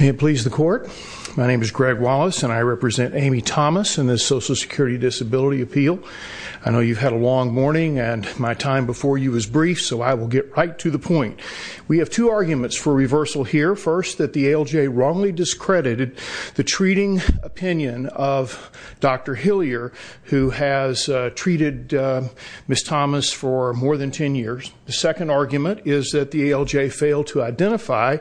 May it please the court. My name is Greg Wallace and I represent Amy Thomas and the Social Security Disability Appeal. I know you've had a long morning and my time before you was brief so I will get right to the point. We have two arguments for reversal here. First that the ALJ wrongly discredited the treating opinion of Dr. Hillier who has treated Ms. Thomas for more than 10 years. The second argument is that the ALJ failed to identify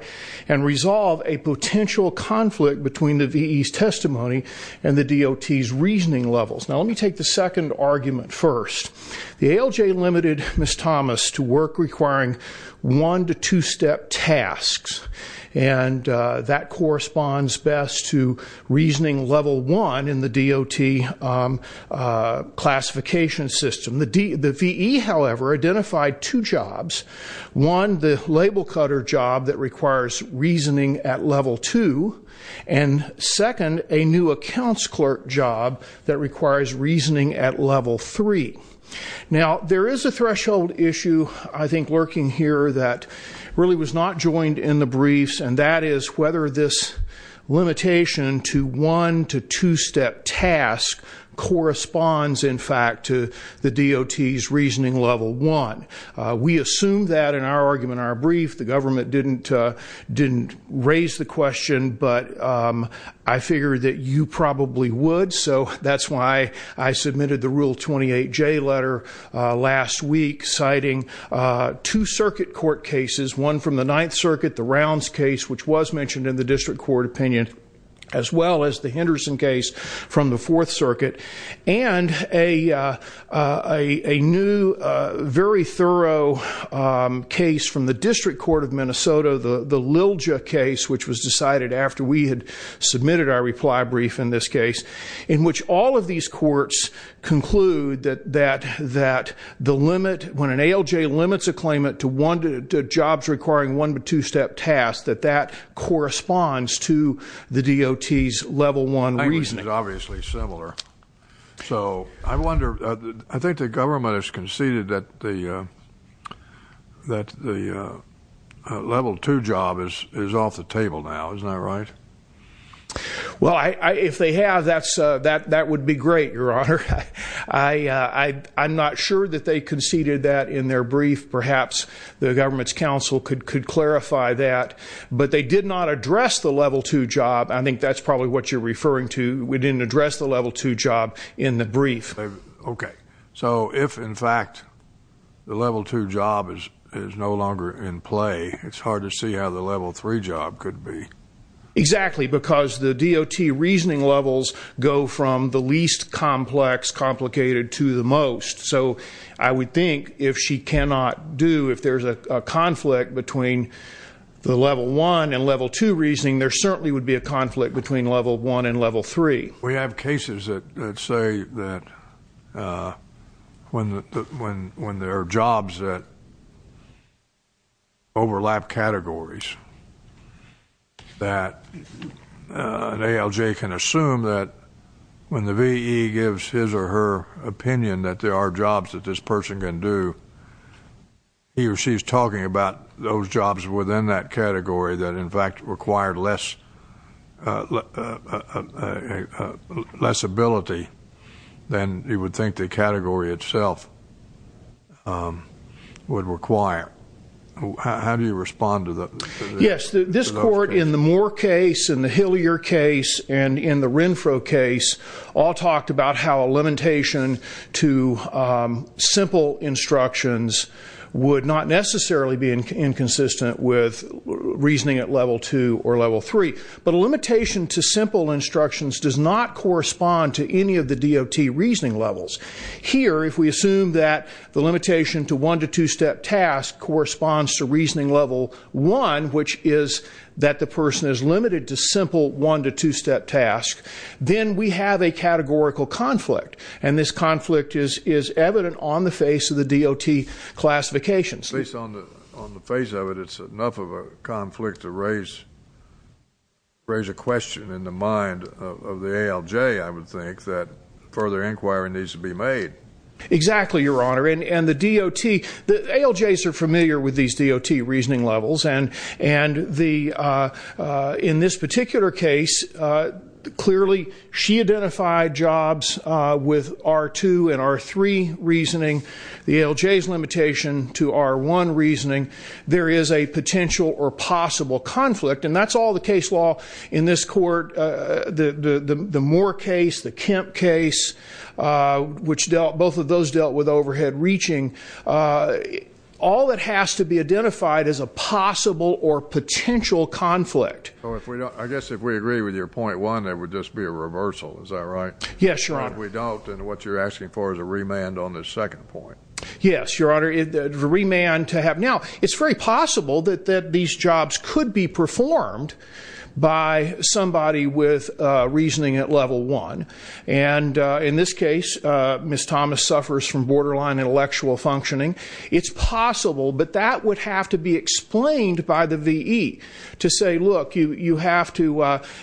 and resolve a potential conflict between the VE's testimony and the DOT's reasoning levels. Now let me take the second argument first. The ALJ limited Ms. Thomas to work requiring one- to two-step tasks and that corresponds best to reasoning level one in the DOT classification system. The VE however identified two jobs. One the label cutter job that requires reasoning at level two and second a new accounts clerk job that requires reasoning at level three. Now there is a threshold issue I think lurking here that really was not joined in the briefs and that is whether this limitation to one- to two-step task corresponds in fact to the DOT's reasoning level one. We assume that in our argument in our brief the government didn't didn't raise the question but I figured that you probably would so that's why I submitted the rule 28 J letter last week citing two circuit court cases one from the Ninth Circuit the rounds case which was mentioned in the district court opinion as well as the Henderson case from the Fourth Circuit and a a new very thorough case from the District Court of Minnesota the the Lilja case which was decided after we had submitted our reply brief in this case in which all of these courts conclude that that that the limit when ALJ limits a claimant to one two jobs requiring one but two-step tasks that that corresponds to the DOT's level one reason is obviously similar so I wonder I think the government has conceded that the that the level two job is is off the table now isn't that right well I if they have that's that that would be great your honor I I I'm not sure that they conceded that in their brief perhaps the government's counsel could could clarify that but they did not address the level two job I think that's probably what you're referring to we didn't address the level two job in the brief okay so if in fact the level two job is is no longer in play it's hard to see how the level three job could be exactly because the DOT reasoning levels go from the least complex complicated to the most so I would think if she cannot do if there's a conflict between the level one and level two reasoning there certainly would be a conflict between level one and level three we have cases that say that when when when there are jobs that overlap categories that an ALJ can assume that when the VE gives his or her opinion that there are jobs that this person can do he or she's talking about those jobs within that category that in fact required less less ability then you would think the category itself would require how do you respond to the yes this court in the Moore case in the Hillier case and in the Renfro case all talked about how a limitation to simple instructions would not necessarily be inconsistent with reasoning at level two or level three but a limitation to simple instructions does not correspond to any of the DOT reasoning levels here if we assume that the limitation to one to two step task corresponds to reasoning level one which is that the person is limited to simple one to two step task then we have a categorical conflict and this conflict is is evident on the face of the DOT classifications based on the on the face of it it's enough of a conflict to raise raise a question in the mind of the ALJ I would think that further inquiry needs to be made exactly your honor and the DOT the ALJs are familiar with these DOT reasoning levels and and the in this particular case clearly she identified jobs with our two and our three reasoning the ALJs limitation to our one reasoning there is a potential or possible conflict and that's all the case law in this court the the Moore case the Kemp case which dealt both of those dealt with overhead reaching all that has to be identified as a possible or potential conflict I guess if we agree with your point one that would just be a reversal is that right yes your honor we don't and what you're asking for is a remand on this second point yes your honor the remand to have now it's very possible that that these jobs could be performed by somebody with reasoning at level one and in this case miss Thomas suffers from borderline intellectual functioning it's possible but that would have to be explained by the VE to say look you you have to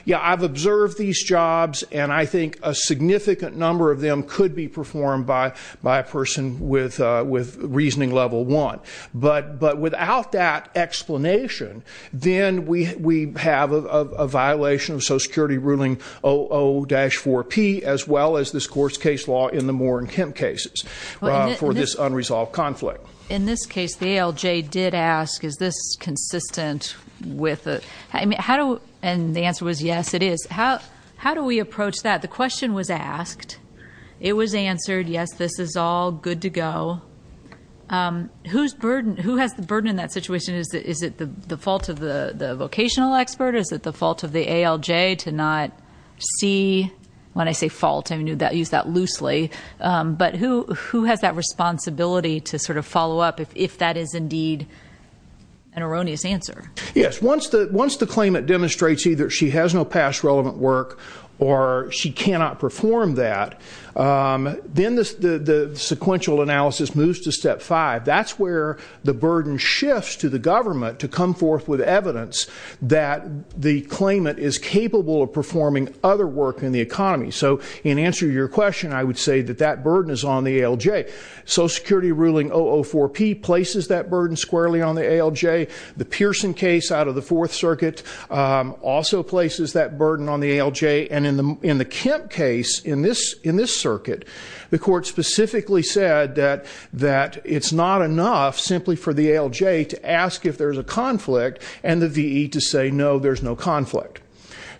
yeah I've observed these jobs and I think a significant number of them could be performed by by a person with with reasoning level one but but without that explanation then we we have a violation of Social Security ruling o dash 4p as well as this court's case law in the more in Kemp cases for this unresolved conflict in this case the ALJ did ask is this consistent with it I mean how do and the answer was yes it is how how do we approach that the question was asked it was answered yes this is all good to go whose burden who has the burden in that situation is that is it the fault of the the vocational expert is that the fault of the ALJ to not see when I say fault I mean you that use that loosely but who who has that responsibility to sort of follow up if that is indeed an erroneous answer yes once that once the claimant demonstrates either she has no past relevant work or she cannot perform that then this the sequential analysis moves to step 5 that's where the burden shifts to the government to come forth with evidence that the claimant is capable of performing other work in the economy so in answer to your question I would say that that burden is on the ALJ Social Security ruling 004 P places that burden squarely on the ALJ the Pearson case out of the fourth circuit also places that burden on the ALJ and in the in the Kemp case in this in this circuit the court specifically said that that it's not enough simply for the ALJ to ask if there's a conflict and the VE to say no there's no conflict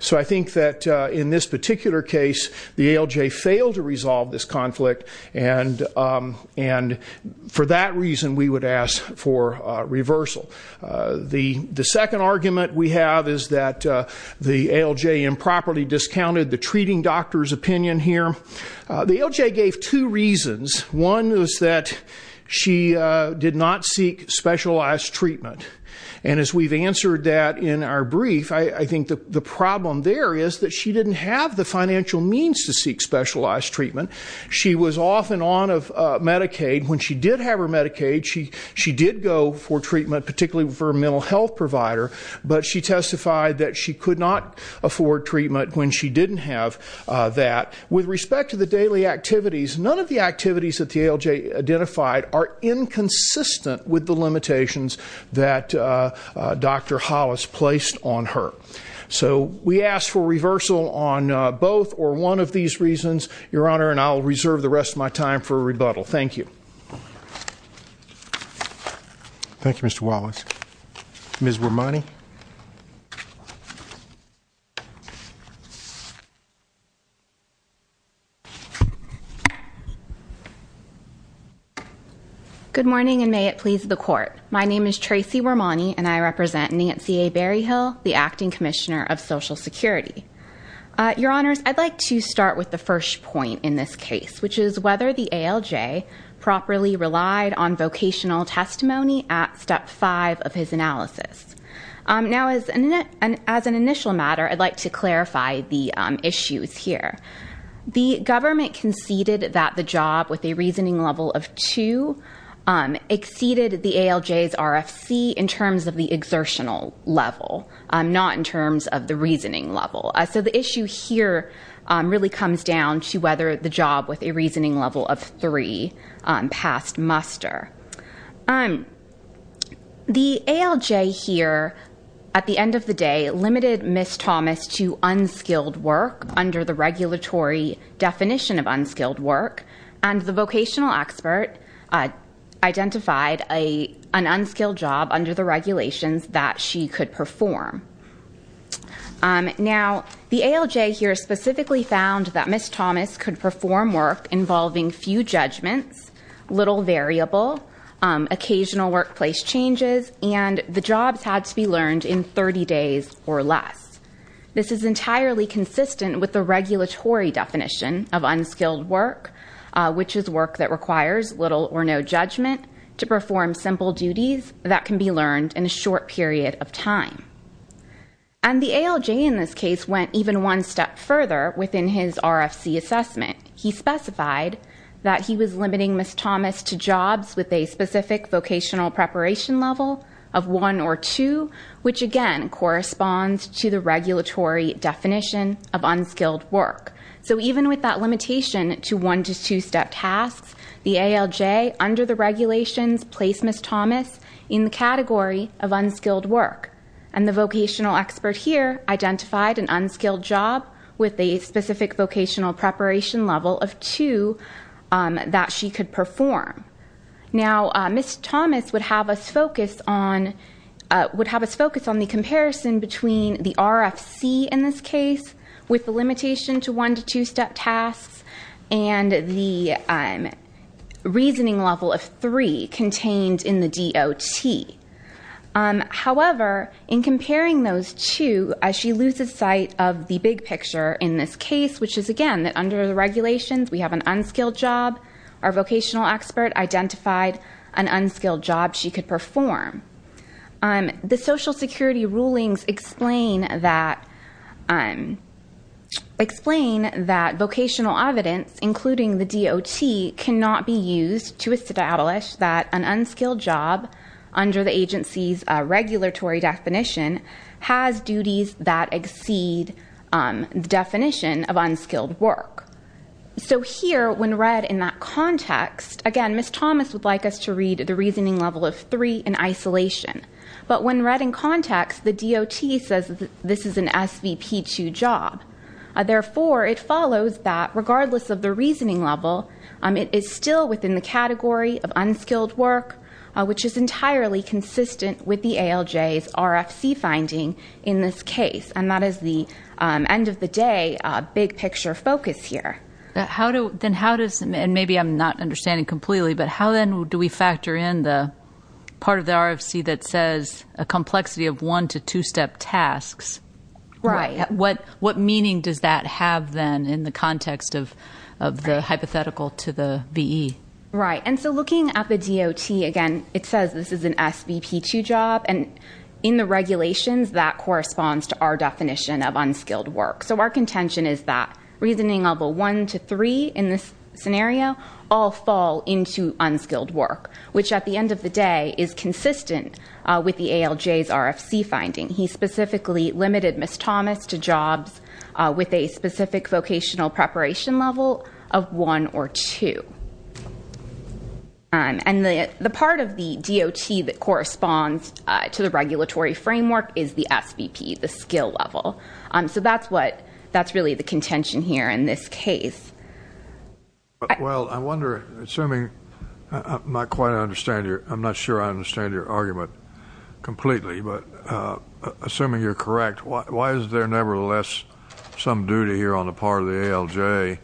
so I think that in this particular case the ALJ failed to resolve this conflict and and for that reason we would ask for reversal the the second argument we have is that the ALJ improperly discounted the treating doctor's opinion here the ALJ gave two reasons one is that she did not seek specialized treatment and as we've answered that in our brief I think the problem there is that she didn't have the financial means to seek specialized treatment she was off and on of Medicaid when she did have her Medicaid she she did go for treatment particularly for a mental health provider but she testified that she could not afford treatment when she didn't have that with respect to the daily activities none of the activities that the ALJ identified are inconsistent with the limitations that dr. Hollis placed on her so we asked for reversal on both or one of these reasons your honor and I'll reserve the rest of my time for a rebuttal thank you thank you mr. Wallace ms. Romani good morning and may it please the court my name is Tracy Romani and I represent Nancy a Berryhill the Acting Commissioner of Social Security your honors I'd like to start with the first point in this case which is whether the ALJ properly relied on vocational testimony at step 5 of his analysis now as an as an initial matter I'd like to clarify the issues here the government conceded that the job with a reasoning level of two exceeded the ALJs RFC in terms of the exertional level not in here really comes down to whether the job with a reasoning level of three passed muster I'm the ALJ here at the end of the day limited miss Thomas to unskilled work under the regulatory definition of unskilled work and the vocational expert identified a an unskilled job under the regulations that she could perform now the ALJ here specifically found that miss Thomas could perform work involving few judgments little variable occasional workplace changes and the jobs had to be learned in 30 days or less this is entirely consistent with the regulatory definition of unskilled work which is work that requires little or no judgment to perform simple duties that can be learned in a short period of time and the ALJ in this case went even one step further within his RFC assessment he specified that he was limiting miss Thomas to jobs with a specific vocational preparation level of one or two which again corresponds to the regulatory definition of unskilled work so even with that limitation to one to two step tasks the ALJ under the of unskilled work and the vocational expert here identified an unskilled job with a specific vocational preparation level of two that she could perform now miss Thomas would have us focus on would have us focus on the comparison between the RFC in this case with the limitation to one to two step tasks and the reasoning level of three contained in the DOT however in comparing those two as she loses sight of the big picture in this case which is again that under the regulations we have an unskilled job our vocational expert identified an unskilled job she could perform the Social Security rulings explain that vocational evidence including the DOT cannot be used to establish that an unskilled job under the agency's regulatory definition has duties that exceed the definition of unskilled work so here when read in that context again miss Thomas would like us to read the reasoning level of three in isolation but when read in context the DOT says this is an SVP to job therefore it follows that regardless of the reasoning level it is still within the category of unskilled work which is entirely consistent with the ALJ's RFC finding in this case and that is the end of the day big picture focus here how do then how does and maybe I'm not understanding completely but how then do we factor in the part of the RFC that says a complexity of one to two step tasks right what what meaning does that have then in the context of the hypothetical to the VE right and so looking at the DOT again it says this is an SVP to job and in the regulations that corresponds to our definition of unskilled work so our contention is that reasoning level one to three in this scenario all fall into unskilled work which at the end of the day is finding he specifically limited miss Thomas to jobs with a specific vocational preparation level of one or two and the the part of the DOT that corresponds to the regulatory framework is the SVP the skill level so that's what that's really the contention here in this case well I wonder assuming not quite I understand you I'm not sure I understand your argument completely but assuming you're correct why is there nevertheless some duty here on the part of the ALJ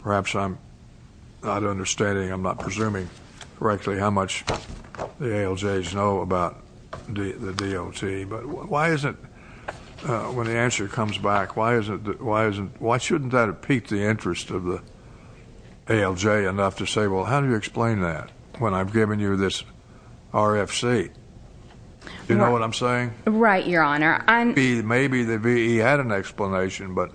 perhaps I'm not understanding I'm not presuming correctly how much the ALJ's know about the DOT but why isn't when the answer comes back why is it why isn't why shouldn't that have piqued the interest of the ALJ enough to say well how do you explain that when I've given you this RFC you know what I'm saying right your honor and be maybe the V had an explanation but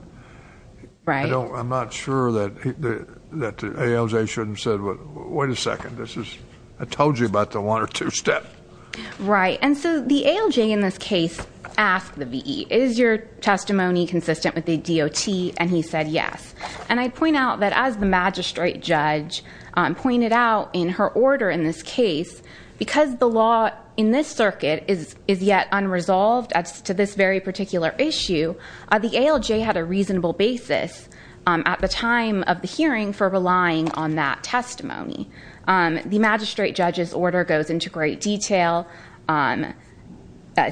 right oh I'm not sure that the ALJ shouldn't said what wait a second this is I told you about the one or two step right and so the ALJ in this case asked the VE is your testimony consistent with the DOT and he said yes and I'd point out that as the magistrate judge pointed out in her order in this case because the yet unresolved as to this very particular issue the ALJ had a reasonable basis at the time of the hearing for relying on that testimony the magistrate judge's order goes into great detail on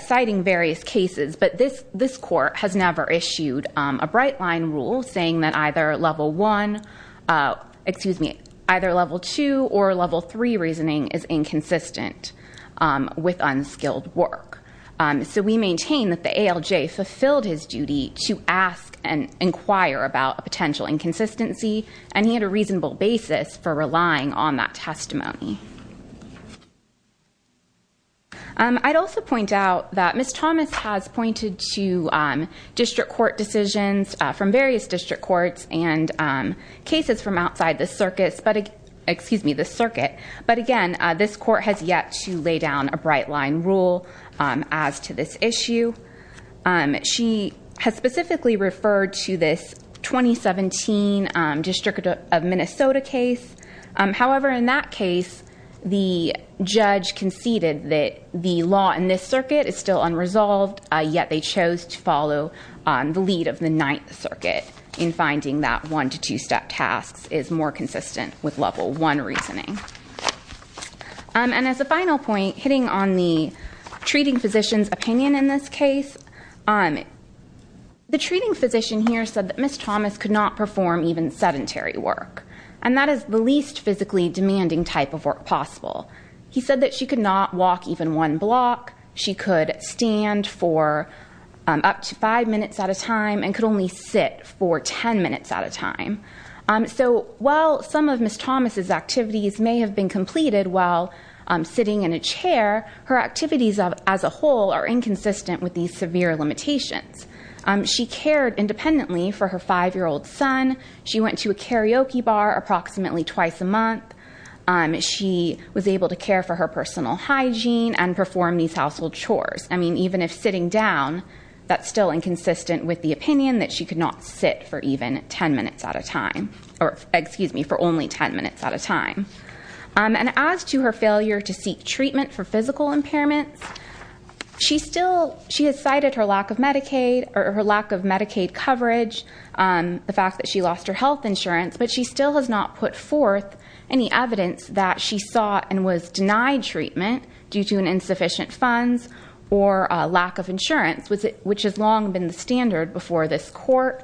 citing various cases but this this court has never issued a bright line rule saying that either level 1 excuse me either level 2 or level 3 reasoning is inconsistent with unskilled work so we maintain that the ALJ fulfilled his duty to ask and inquire about a potential inconsistency and he had a reasonable basis for relying on that testimony I'd also point out that miss Thomas has pointed to district court decisions from various district courts and cases from outside the circus but excuse me the circuit but again this court has yet to lay down a line rule as to this issue and she has specifically referred to this 2017 district of Minnesota case however in that case the judge conceded that the law in this circuit is still unresolved yet they chose to follow on the lead of the Ninth Circuit in finding that one to two step tasks is more consistent with the treating physicians opinion in this case on the treating physician here said that miss Thomas could not perform even sedentary work and that is the least physically demanding type of work possible he said that she could not walk even one block she could stand for up to five minutes at a time and could only sit for ten minutes at a time so while some of miss Thomas's activities may have been completed while sitting in a chair her activities of as a whole are inconsistent with these severe limitations she cared independently for her five-year-old son she went to a karaoke bar approximately twice a month and she was able to care for her personal hygiene and perform these household chores I mean even if sitting down that's still inconsistent with the opinion that she could not sit for even ten minutes at a time or excuse me for only ten minutes at a time and as to her failure to seek treatment for physical impairment she still she has cited her lack of Medicaid or her lack of Medicaid coverage on the fact that she lost her health insurance but she still has not put forth any evidence that she saw and was denied treatment due to an insufficient funds or a lack of insurance was it which is long been standard before this court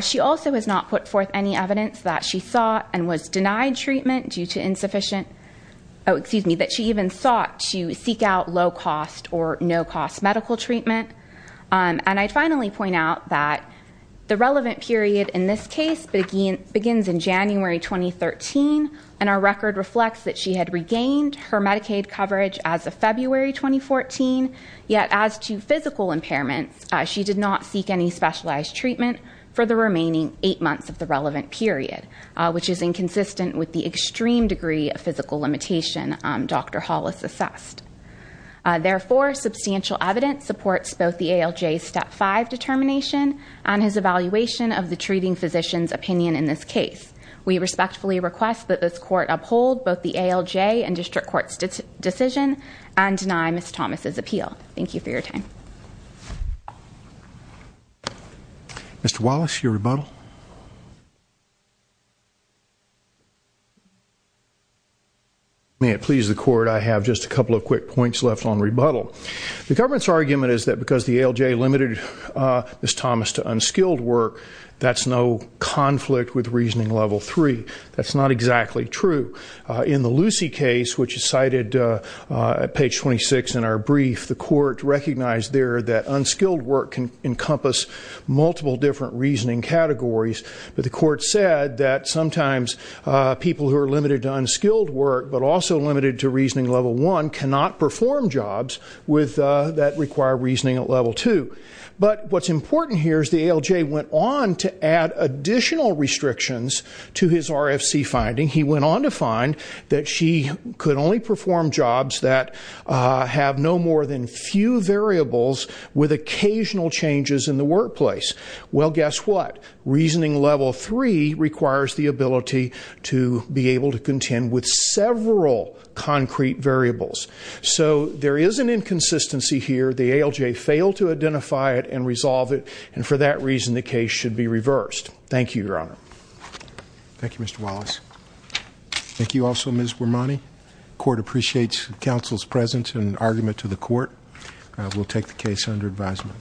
she also has not put forth any evidence that she saw and was denied treatment due to insufficient excuse me that she even sought to seek out low-cost or no-cost medical treatment and I finally point out that the relevant period in this case begins in January 2013 and our record reflects that she had regained her Medicaid coverage as of February 2014 yet as to physical impairment she did not seek any specialized treatment for the remaining eight months of the relevant period which is inconsistent with the extreme degree of physical limitation dr. Hollis assessed therefore substantial evidence supports both the ALJ step 5 determination and his evaluation of the treating physicians opinion in this case we respectfully request that this court uphold both the ALJ and district courts decision and I miss Thomas's appeal thank you for your time mr. Wallace your rebuttal may it please the court I have just a couple of quick points left on rebuttal the government's argument is that because the ALJ limited miss Thomas to unskilled work that's no conflict with reasoning level 3 that's not exactly true in the Lucy case which is cited at page 26 in our brief the court recognized there that unskilled work can encompass multiple different reasoning categories but the court said that sometimes people who are limited to unskilled work but also limited to reasoning level 1 cannot perform jobs with that require reasoning at level 2 but what's important here is the ALJ went on to add additional restrictions to his RFC finding he went on to find that she could only perform jobs that have no more than few variables with occasional changes in the workplace well guess what reasoning level 3 requires the ability to be able to contend with several concrete variables so there is an inconsistency here the ALJ failed to identify it and resolve it and for that reason the case should be reversed thank you your honor thank you Mr. Wallace thank you also miss Romani court appreciates counsel's presence and argument to the court will take the case under advisement